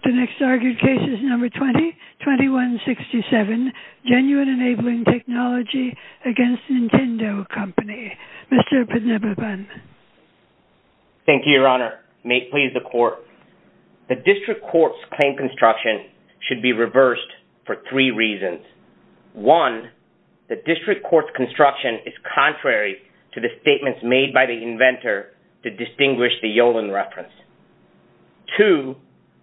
2167 Genuine Enabling Technology v. Nintendo Co., Ltd. The District Court's claim construction should be reversed for three reasons. One, the District Court's construction is contrary to the statements made by the inventor to distinguish the Yolen reference. Two,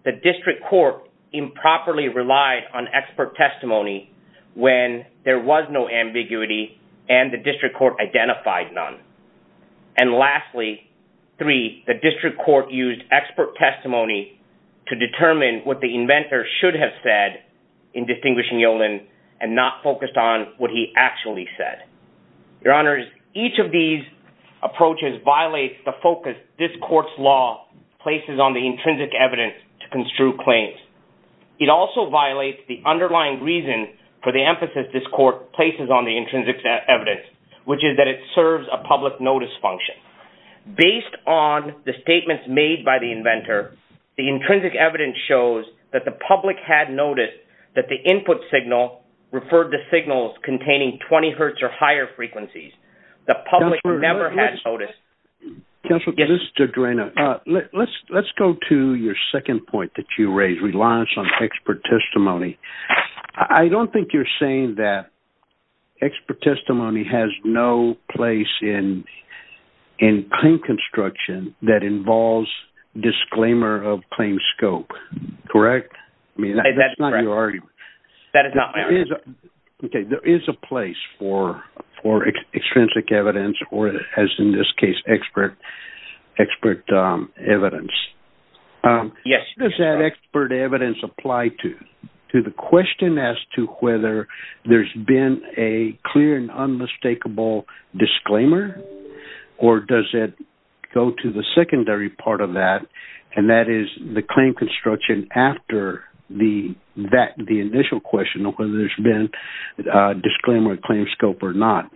the District Court improperly relied on expert testimony when there was no ambiguity and the District Court identified none. And lastly, three, the District Court used expert testimony to determine what the inventor should have said in distinguishing Yolen and not focused on what he actually said. Your Honors, each of these approaches violates the focus this Court's law places on the intrinsic evidence to construe claims. It also violates the underlying reason for the emphasis this Court places on the intrinsic evidence, which is that it serves a public notice function. Based on the statements made by the inventor, the intrinsic evidence shows that the public had noticed that the input signal referred to signals containing 20 Hz or higher frequencies. The public never had noticed. Counselor, this is Judge Reina. Let's go to your second point that you raised, reliance on expert testimony. I don't think you're saying that expert testimony has no place in claim construction that involves disclaimer of claim scope, correct? That's not your argument. That is not my argument. Okay, there is a place for extrinsic evidence or, as in this case, expert evidence. Yes. Where does that expert evidence apply to? To the question as to whether there's been a clear and unmistakable disclaimer or does it go to the secondary part of that, and that is the claim construction after the initial question of whether there's been a disclaimer of claim scope or not.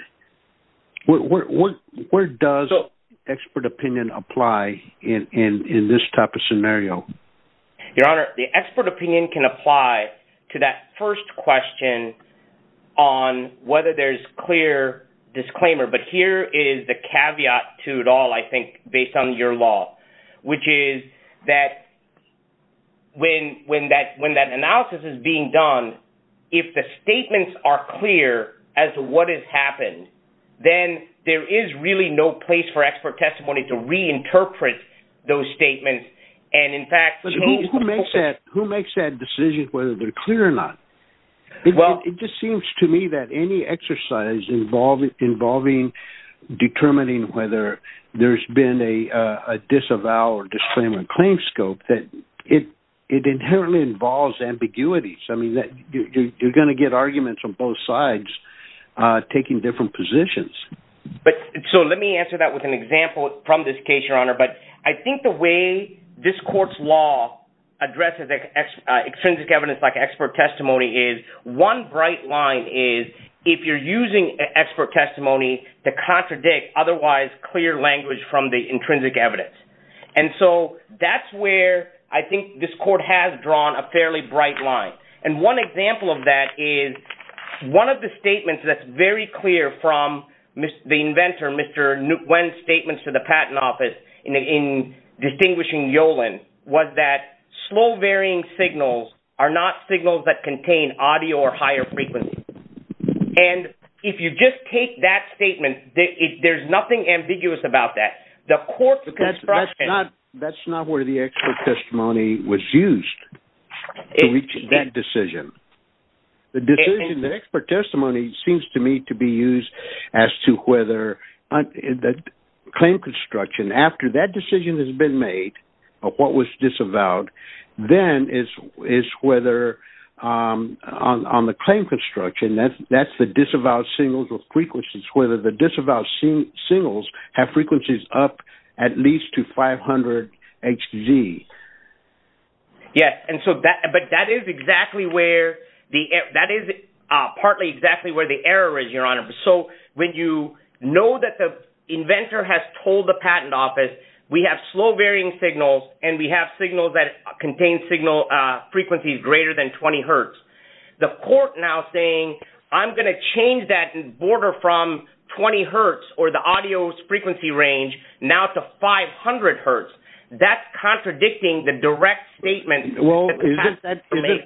Where does expert opinion apply in this type of scenario? Your Honor, the expert opinion can apply to that first question on whether there's clear disclaimer, but here is the caveat to it all, I think, based on your law, which is that when that analysis is being done, if the statements are clear as to what has happened, then there is really no place for expert testimony to reinterpret those statements. Who makes that decision whether they're clear or not? It just seems to me that any exercise involving determining whether there's been a disavow or disclaimer of claim scope, it inherently involves ambiguity. You're going to get arguments from both sides taking different positions. Let me answer that with an example from this case, Your Honor. I think the way this court's law addresses extrinsic evidence like expert testimony is one bright line is if you're using expert testimony to contradict otherwise clear language from the intrinsic evidence. That's where I think this court has drawn a fairly bright line. One example of that is one of the statements that's very clear from the inventor, Mr. Nguyen's statements to the Patent Office in distinguishing Yolen was that slow varying signals are not signals that contain audio or higher frequency. If you just take that statement, there's nothing ambiguous about that. That's not where the expert testimony was used to reach that decision. The decision, the expert testimony seems to me to be used as to whether the claim construction after that decision has been made of what was disavowed, then is whether on the claim construction, that's the disavowed signals or frequencies, whether the disavowed signals have frequencies up at least to 500 Hz. Yes, but that is partly exactly where the error is, Your Honor. When you know that the inventor has told the Patent Office, we have slow varying signals and we have signals that contain frequencies greater than 20 Hz. The court now saying, I'm going to change that border from 20 Hz or the audio frequency range now to 500 Hz, that's contradicting the direct statement. Well, isn't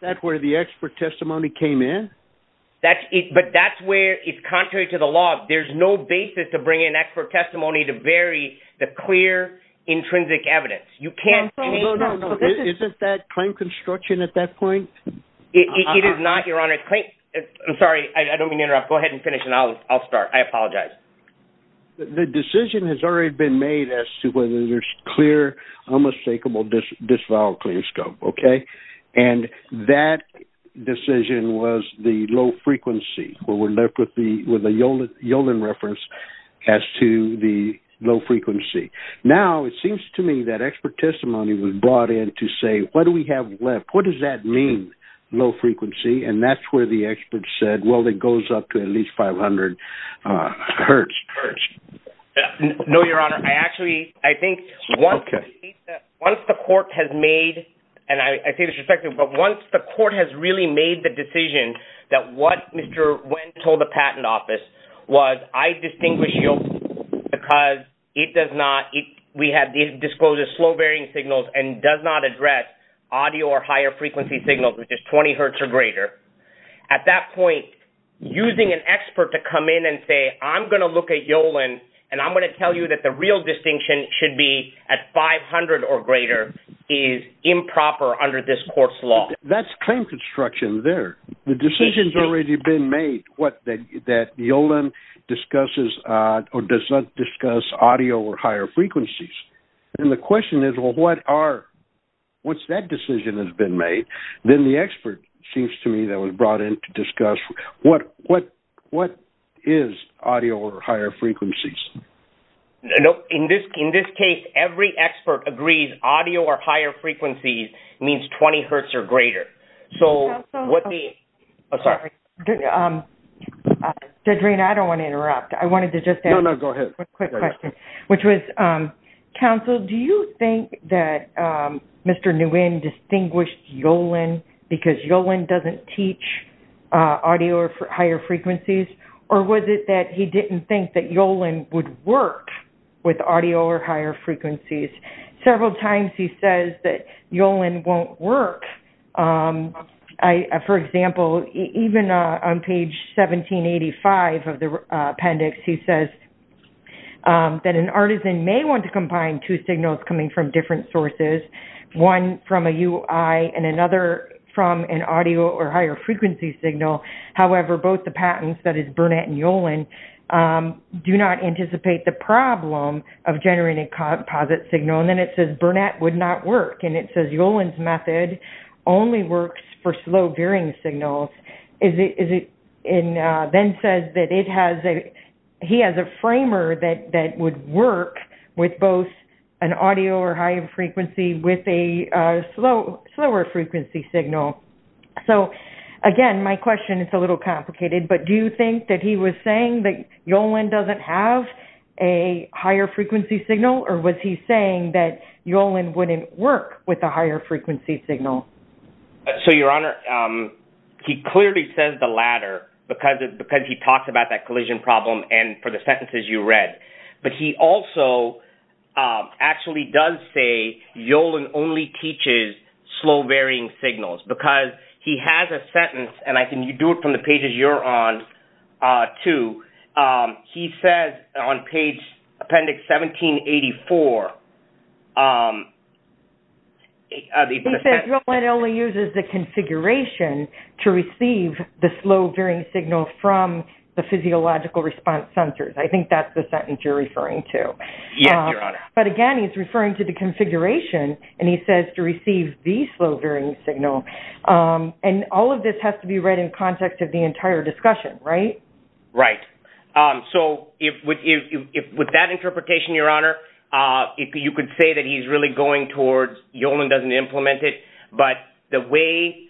that where the expert testimony came in? But that's where it's contrary to the law. There's no basis to bring in expert testimony to vary the clear intrinsic evidence. No, no, no. Isn't that claim construction at that point? It is not, Your Honor. I'm sorry. I don't mean to interrupt. Go ahead and finish and I'll start. I apologize. The decision has already been made as to whether there's clear, unmistakable disavowed clean scope. And that decision was the low frequency where we're left with the Yolen reference as to the low frequency. Now, it seems to me that expert testimony was brought in to say, what do we have left? What does that mean, low frequency? And that's where the expert said, well, it goes up to at least 500 Hz. No, Your Honor. I actually, I think once the court has made, and I say this respectfully, but once the court has really made the decision that what Mr. Wendt told the patent office was, I distinguish Yolen because it does not, we have disclosed as slow varying signals and does not address audio or higher frequency signals, which is 20 Hz or greater. At that point, using an expert to come in and say, I'm going to look at Yolen and I'm going to tell you that the real distinction should be at 500 or greater is improper under this court's law. That's claim construction there. The decision's already been made that Yolen discusses or does not discuss audio or higher frequencies. And the question is, well, what's that decision that's been made? Then the expert seems to me that was brought in to discuss, what is audio or higher frequencies? In this case, every expert agrees audio or higher frequencies means 20 Hz or greater. So what the, oh, sorry. Dedrean, I don't want to interrupt. I wanted to just ask a quick question. No, no, go ahead. Which was, counsel, do you think that Mr. Nguyen distinguished Yolen because Yolen doesn't teach audio or higher frequencies? Or was it that he didn't think that Yolen would work with audio or higher frequencies? Several times he says that Yolen won't work. For example, even on page 1785 of the appendix, he says that an artisan may want to combine two signals coming from different sources, one from a UI and another from an audio or higher frequency signal. However, both the patents, that is Burnett and Yolen, do not anticipate the problem of generating composite signal. And then it says Burnett would not work. And it says Yolen's method only works for slow varying signals. And then says that he has a framer that would work with both an audio or higher frequency with a slower frequency signal. So, again, my question is a little complicated. But do you think that he was saying that Yolen doesn't have a higher frequency signal? Or was he saying that Yolen wouldn't work with a higher frequency signal? So, Your Honor, he clearly says the latter because he talks about that collision problem and for the sentences you read. But he also actually does say Yolen only teaches slow varying signals. Because he has a sentence, and I can do it from the pages you're on too. He says on page appendix 1784. He says Yolen only uses the configuration to receive the slow varying signal from the physiological response sensors. I think that's the sentence you're referring to. Yes, Your Honor. But, again, he's referring to the configuration. And he says to receive the slow varying signal. And all of this has to be read in context of the entire discussion, right? Right. So, with that interpretation, Your Honor, you could say that he's really going towards Yolen doesn't implement it. But the way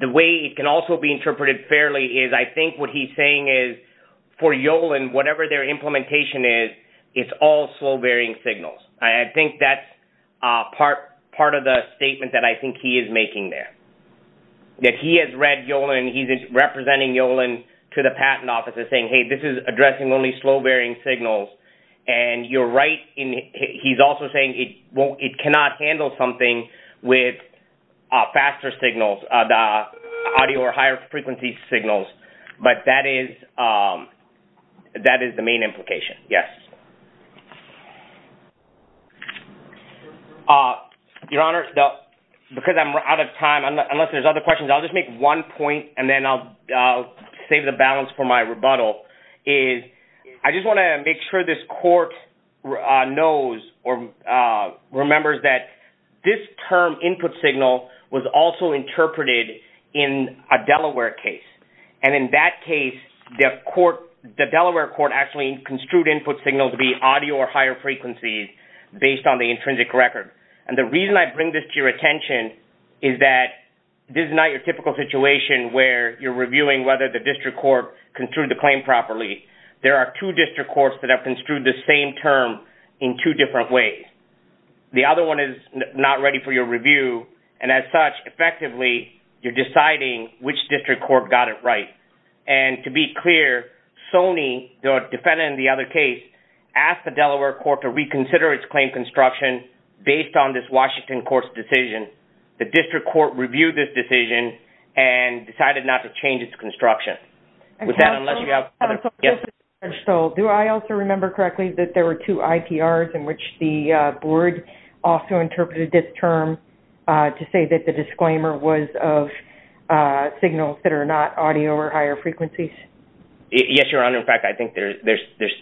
it can also be interpreted fairly is I think what he's saying is for Yolen, whatever their implementation is, it's all slow varying signals. I think that's part of the statement that I think he is making there. That he has read Yolen. He's representing Yolen to the patent office and saying, hey, this is addressing only slow varying signals. And you're right. He's also saying it cannot handle something with faster signals, the audio or higher frequency signals. But that is the main implication. Yes. Your Honor, because I'm out of time, unless there's other questions, I'll just make one point and then I'll save the balance for my rebuttal. I just want to make sure this court knows or remembers that this term input signal was also interpreted in a Delaware case. And in that case, the Delaware court actually construed input signals to be audio or higher frequencies based on the intrinsic record. And the reason I bring this to your attention is that this is not your typical situation where you're reviewing whether the district court construed the claim properly. There are two district courts that have construed the same term in two different ways. The other one is not ready for your review. And as such, effectively, you're deciding which district court got it right. And to be clear, Sony, the defendant in the other case, asked the Delaware court to reconsider its claim construction based on this Washington court's decision. The district court reviewed this decision and decided not to change its construction. Do I also remember correctly that there were two IPRs in which the board also interpreted this term to say that the disclaimer was of signals that are not audio or higher frequencies? Yes, Your Honor. In fact, I think there's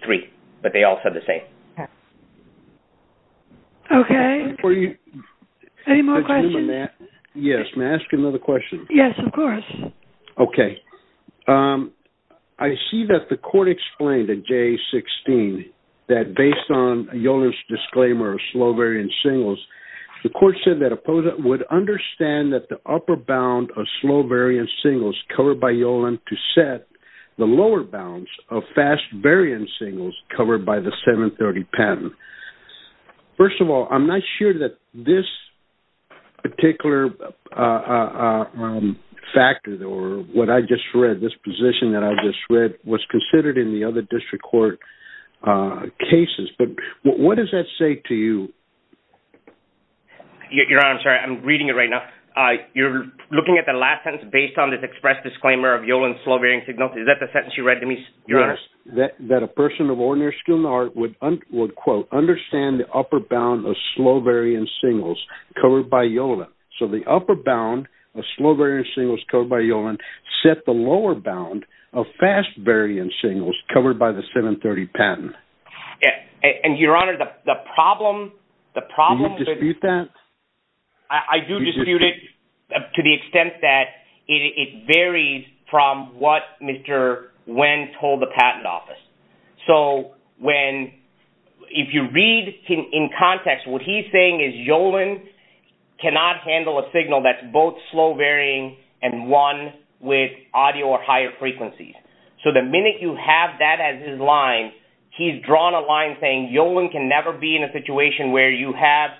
three, but they all said the same. Okay. Any more questions? Yes. May I ask you another question? Yes, of course. Okay. I see that the court explained in J16 that based on Yolen's disclaimer of slow variant signals, the court said that the opponent would understand that the upper bound of slow variant signals covered by Yolen to set the lower bounds of fast variant signals covered by the 730 patent. First of all, I'm not sure that this particular factor or what I just read, this position that I just read, was considered in the other district court cases. But what does that say to you? Your Honor, I'm sorry. I'm reading it right now. You're looking at the last sentence, based on this expressed disclaimer of Yolen's slow variant signals. Is that the sentence you read to me, Your Honor? Yes. That a person of ordinary skill and art would, quote, understand the upper bound of slow variant signals covered by Yolen. So the upper bound of slow variant signals covered by Yolen set the lower bound of fast variant signals covered by the 730 patent. Your Honor, the problem… Do you dispute that? I do dispute it to the extent that it varies from what Mr. Nguyen told the patent office. So if you read in context, what he's saying is Yolen cannot handle a signal that's both slow variant and one with audio or higher frequencies. So the minute you have that as his line, he's drawn a line saying Yolen can never be in a situation where you have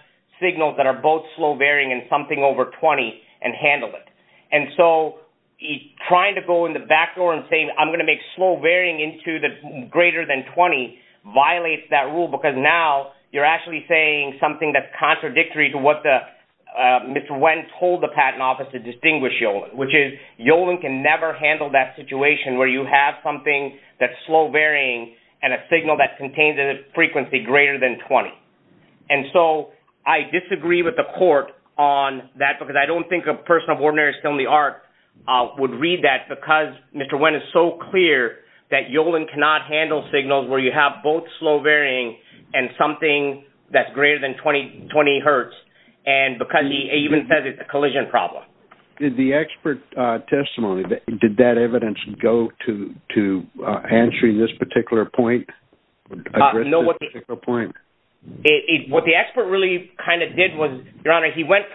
signals that are both slow variant and something over 20 and handle it. And so he's trying to go in the back door and saying, I'm going to make slow variant into greater than 20 violates that rule because now you're actually saying something that's contradictory to what Mr. Nguyen told the patent office to distinguish Yolen. Which is Yolen can never handle that situation where you have something that's slow variant and a signal that contains a frequency greater than 20. And so I disagree with the court on that because I don't think a person of ordinary skill and the art would read that because Mr. Nguyen is so clear that Yolen cannot handle signals where you have both slow variant and something that's greater than 20 hertz. And because he even says it's a collision problem. Did the expert testimony, did that evidence go to answering this particular point? What the expert really kind of did was, Your Honor, he went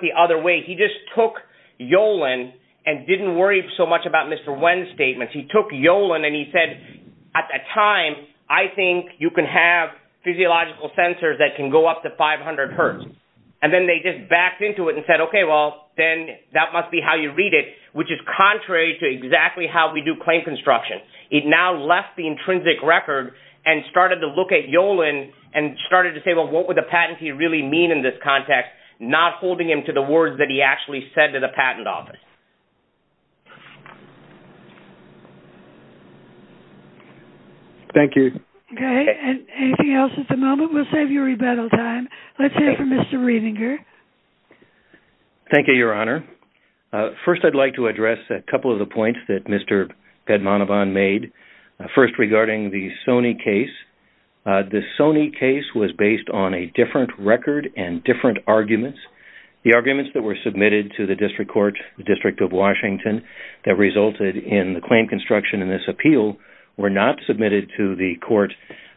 the other way. He just took Yolen and didn't worry so much about Mr. Nguyen's statement. He took Yolen and he said at that time, I think you can have physiological sensors that can go up to 500 hertz. And then they just backed into it and said, okay, well, then that must be how you read it, which is contrary to exactly how we do claim construction. It now left the intrinsic record and started to look at Yolen and started to say, well, what would the patentee really mean in this context? Not holding him to the words that he actually said to the patent office. Thank you. Okay. Anything else at the moment? We'll save you rebuttal time. Let's hear from Mr. Riebinger. Thank you, Your Honor. First, I'd like to address a couple of the points that Mr. Pedmanabhan made. First, regarding the Sony case. The Sony case was based on a different record and different arguments. The arguments that were submitted to the district court, the District of Washington, that resulted in the claim construction in this appeal were not submitted to the court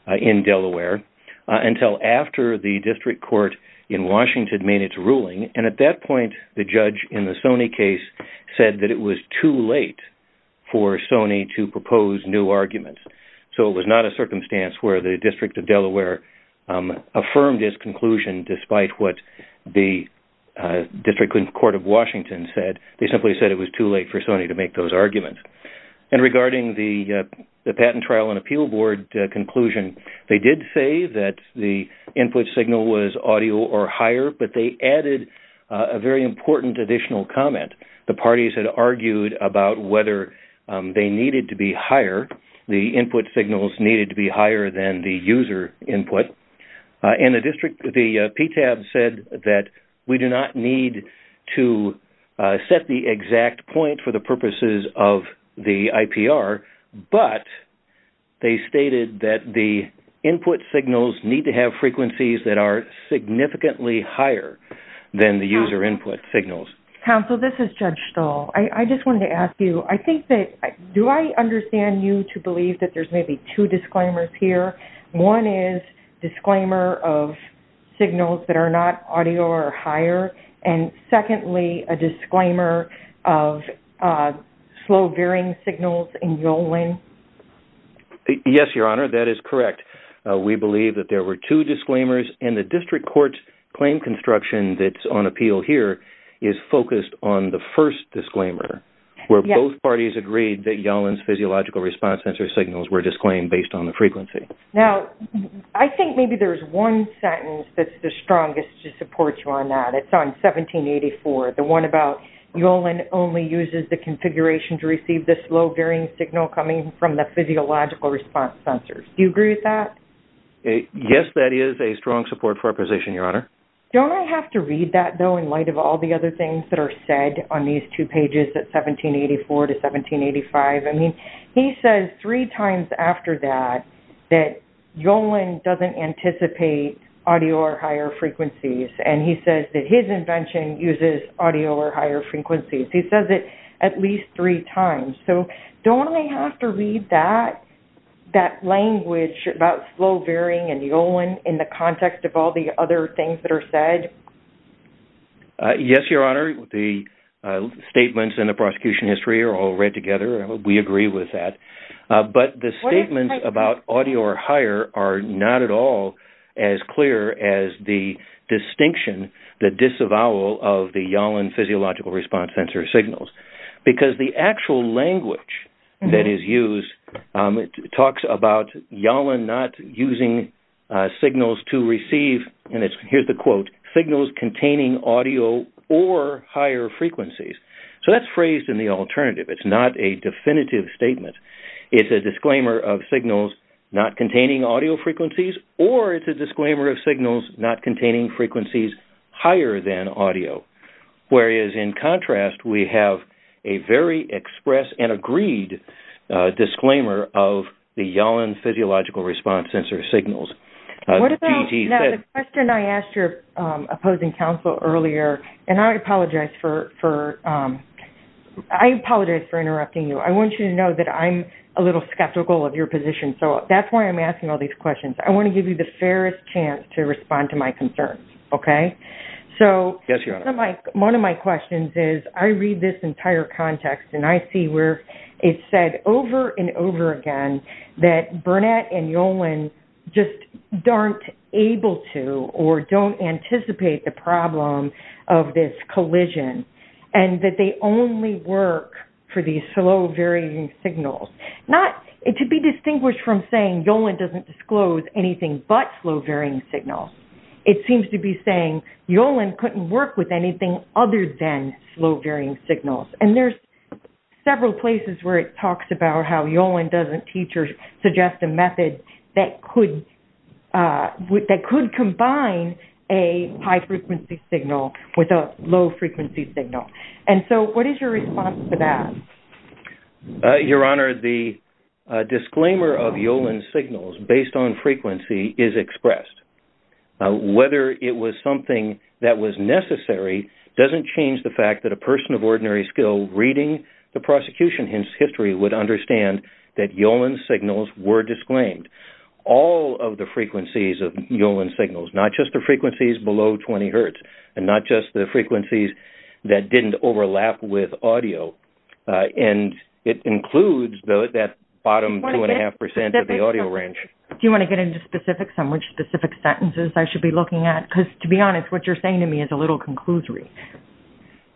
in Delaware until after the district court in Washington made its ruling. And at that point, the judge in the Sony case said that it was too late for Sony to propose new arguments. So it was not a circumstance where the District of Delaware affirmed its conclusion despite what the District Court of Washington said. They simply said it was too late for Sony to make those arguments. And regarding the Patent Trial and Appeal Board conclusion, they did say that the input signal was audio or higher, but they added a very important additional comment. The parties had argued about whether they needed to be higher, the input signals needed to be higher than the user input. And the PTAB said that we do not need to set the exact point for the purposes of the IPR, but they stated that the input signals need to have frequencies that are significantly higher than the user input signals. Counsel, this is Judge Stahl. I just wanted to ask you, I think that, do I understand you to believe that there's maybe two disclaimers here? One is disclaimer of signals that are not audio or higher, and secondly, a disclaimer of slow veering signals in Yolen? Yes, Your Honor, that is correct. We believe that there were two disclaimers, and the District Court's claim construction that's on appeal here is focused on the first disclaimer, where both parties agreed that Yolen's physiological response sensor signals were disclaimed based on the frequency. Now, I think maybe there's one sentence that's the strongest to support you on that. It's on 1784, the one about Yolen only uses the configuration to receive the slow veering signal coming from the physiological response sensor. Do you agree with that? Yes, that is a strong support for our position, Your Honor. Don't I have to read that, though, in light of all the other things that are said on these two pages at 1784 to 1785? I mean, he says three times after that that Yolen doesn't anticipate audio or higher frequencies, and he says that his invention uses audio or higher frequencies. He says it at least three times. So don't I have to read that language about slow veering and Yolen in the context of all the other things that are said? Yes, Your Honor. The statements in the prosecution history are all read together, and we agree with that. But the statements about audio or higher are not at all as clear as the distinction, the disavowal of the Yolen physiological response sensor signals because the actual language that is used talks about Yolen not using signals to receive, and here's the quote, signals containing audio or higher frequencies. So that's phrased in the alternative. It's not a definitive statement. It's a disclaimer of signals not containing audio frequencies, or it's a disclaimer of signals not containing frequencies higher than audio, whereas in contrast we have a very express and agreed disclaimer of the Yolen physiological response sensor signals. Now the question I asked your opposing counsel earlier, and I apologize for interrupting you. I want you to know that I'm a little skeptical of your position, so that's why I'm asking all these questions. I want to give you the fairest chance to respond to my concerns, okay? Yes, Your Honor. One of my questions is I read this entire context, and I see where it's said over and over again that Burnett and Yolen just aren't able to or don't anticipate the problem of this collision, and that they only work for these slow varying signals. To be distinguished from saying Yolen doesn't disclose anything but slow varying signals, it seems to be saying Yolen couldn't work with anything other than slow varying signals. And there's several places where it talks about how Yolen doesn't teach or suggest a method that could combine a high frequency signal with a low frequency signal. And so what is your response to that? Your Honor, the disclaimer of Yolen signals based on frequency is expressed. Whether it was something that was necessary doesn't change the fact that a person of ordinary skill reading the prosecution history would understand that Yolen signals were disclaimed. All of the frequencies of Yolen signals, not just the frequencies below 20 hertz, and not just the frequencies that didn't overlap with audio, and it includes that bottom 2.5% of the audio range. Do you want to get into specifics on which specific sentences I should be looking at? Because, to be honest, what you're saying to me is a little conclusory.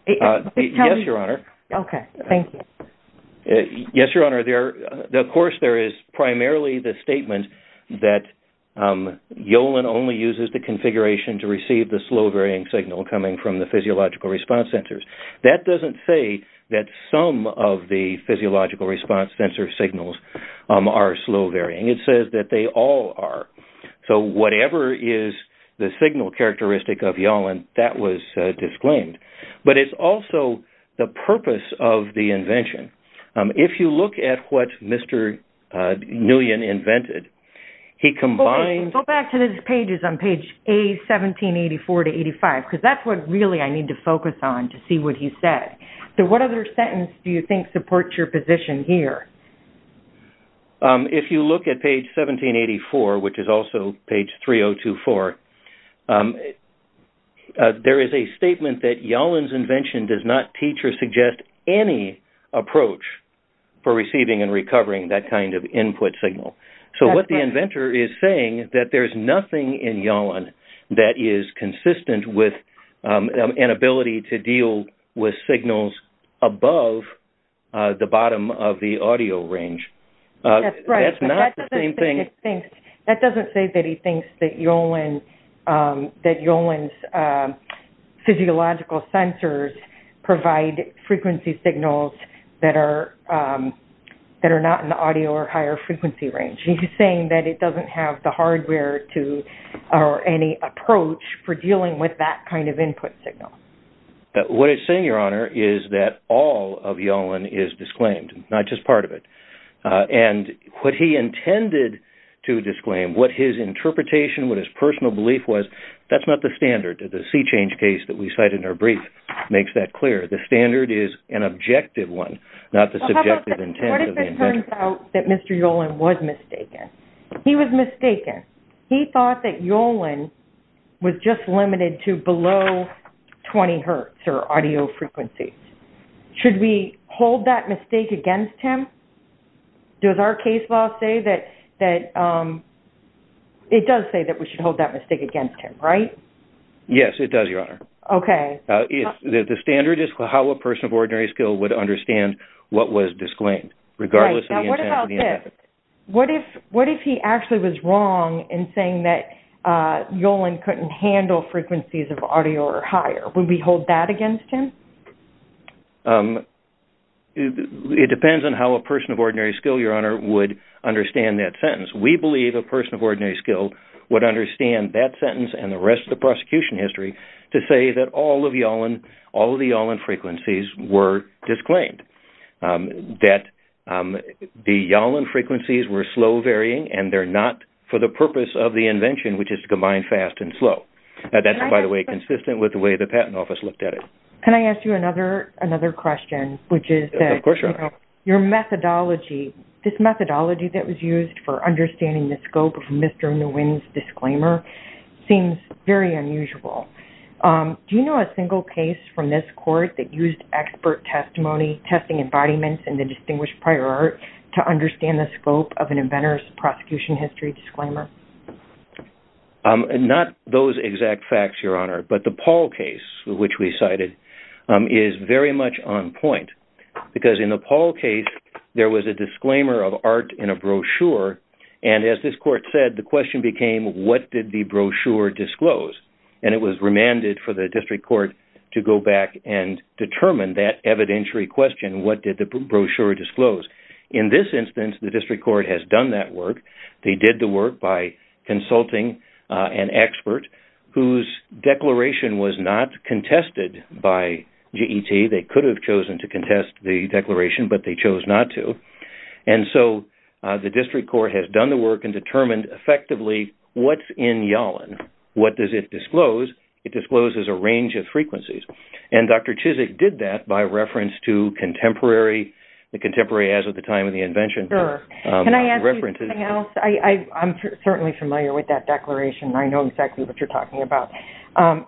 Yes, Your Honor. Okay, thank you. Yes, Your Honor. Of course, there is primarily the statement that Yolen only uses the configuration to receive the slow varying signal coming from the physiological response sensors. That doesn't say that some of the physiological response sensor signals are slow varying. It says that they all are. So whatever is the signal characteristic of Yolen, that was disclaimed. But it's also the purpose of the invention. If you look at what Mr. Nguyen invented, he combined... Go back to his pages on page A1784-85, because that's what really I need to focus on to see what he said. So what other sentence do you think supports your position here? If you look at page 1784, which is also page 3024, there is a statement that Yolen's invention does not teach or suggest any approach for receiving and recovering that kind of input signal. So what the inventor is saying is that there is nothing in Yolen that is consistent with an ability to deal with signals above the bottom of the audio range. That's not the same thing. That doesn't say that he thinks that Yolen's physiological sensors provide frequency signals that are not in the audio or higher frequency range. He's saying that it doesn't have the hardware or any approach for dealing with that kind of input signal. What he's saying, Your Honor, is that all of Yolen is disclaimed, not just part of it. And what he intended to disclaim, what his interpretation, what his personal belief was, that's not the standard. The sea change case that we cite in our brief makes that clear. The standard is an objective one, not the subjective intent of the invention. What if it turns out that Mr. Yolen was mistaken? He was mistaken. He thought that Yolen was just limited to below 20 hertz or audio frequency. Should we hold that mistake against him? Does our case law say that, it does say that we should hold that mistake against him, right? Yes, it does, Your Honor. Okay. The standard is how a person of ordinary skill would understand what was disclaimed, regardless of the intent of the invention. What if he actually was wrong in saying that Yolen couldn't handle frequencies of audio or higher? Would we hold that against him? It depends on how a person of ordinary skill, Your Honor, would understand that sentence. We believe a person of ordinary skill would understand that sentence and the rest of the prosecution history to say that all of Yolen, all of the Yolen frequencies were disclaimed. That the Yolen frequencies were slow varying and they're not for the purpose of the invention, which is to combine fast and slow. That's, by the way, consistent with the way the Patent Office looked at it. Can I ask you another question? Of course, Your Honor. Your methodology, this methodology that was used for understanding the scope of Mr. Nguyen's disclaimer seems very unusual. Do you know a single case from this court that used expert testimony, testing embodiments, and the distinguished prior art to understand the scope of an inventor's prosecution history disclaimer? Not those exact facts, Your Honor, but the Paul case, which we cited, is very much on point. Because in the Paul case, there was a disclaimer of art in a brochure. And as this court said, the question became, what did the brochure disclose? And it was remanded for the district court to go back and determine that evidentiary question. What did the brochure disclose? In this instance, the district court has done that work. They did the work by consulting an expert whose declaration was not contested by G.E.T. They could have chosen to contest the declaration, but they chose not to. And so the district court has done the work and determined effectively what's in Yolen. What does it disclose? It discloses a range of frequencies. And Dr. Chizik did that by reference to the contemporary as of the time of the invention. Can I ask you something else? I'm certainly familiar with that declaration. I know exactly what you're talking about.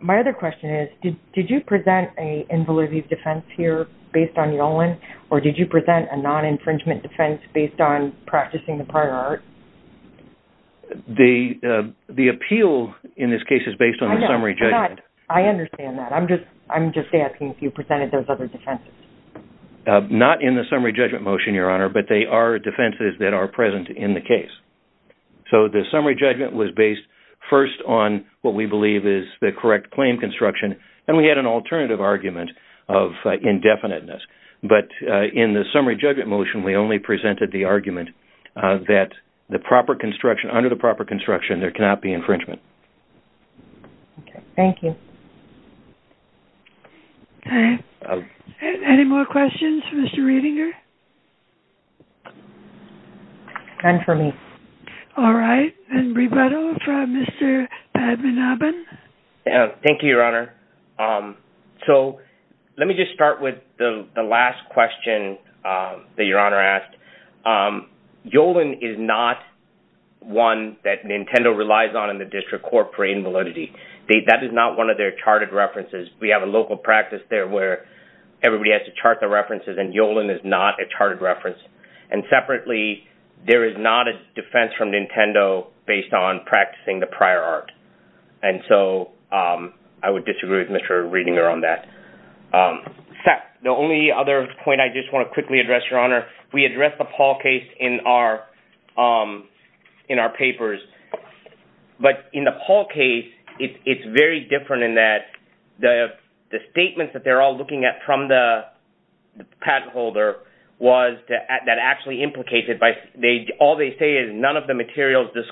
My other question is, did you present an involutive defense here based on Yolen, or did you present a non-infringement defense based on practicing the prior art? The appeal in this case is based on the summary judgment. I understand that. I'm just asking if you presented those other defenses. Not in the summary judgment motion, Your Honor, but they are defenses that are present in the case. So the summary judgment was based first on what we believe is the correct claim construction, and we had an alternative argument of indefiniteness. But in the summary judgment motion, we only presented the argument that the proper construction, under the proper construction, there cannot be infringement. Thank you. Any more questions for Mr. Redinger? None for me. All right. And Rebeto from Mr. Badman-Abbin? Thank you, Your Honor. So let me just start with the last question that Your Honor asked. Yolen is not one that Nintendo relies on in the district court for invalidity. That is not one of their charted references. We have a local practice there where everybody has to chart the references, and Yolen is not a charted reference. And separately, there is not a defense from Nintendo based on practicing the prior art. And so I would disagree with Mr. Redinger on that. The only other point I just want to quickly address, Your Honor, we addressed the Paul case in our papers. But in the Paul case, it's very different in that the statements that they're all looking at from the patent holder that actually implicate it. All they say is none of the materials in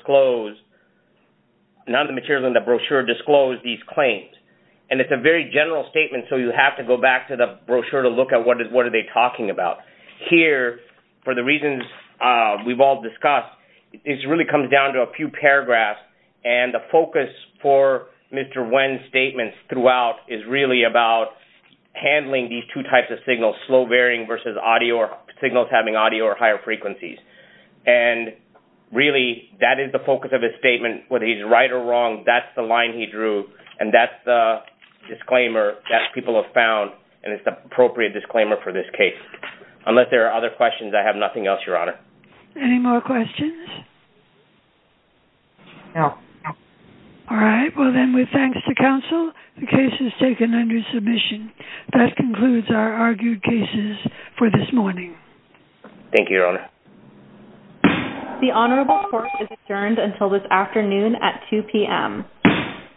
the brochure disclose these claims. And it's a very general statement, so you have to go back to the brochure to look at what are they talking about. Here, for the reasons we've all discussed, it really comes down to a few paragraphs, and the focus for Mr. Nguyen's statements throughout is really about handling these two types of signals, slow varying versus signals having audio or higher frequencies. And really, that is the focus of his statement. Whether he's right or wrong, that's the line he drew, and that's the disclaimer that people have found, and it's the appropriate disclaimer for this case. Unless there are other questions, I have nothing else, Your Honor. Any more questions? No. All right. Well, then, with thanks to counsel, the case is taken under submission. That concludes our argued cases for this morning. Thank you, Your Honor. The Honorable Court is adjourned until this afternoon at 2 p.m.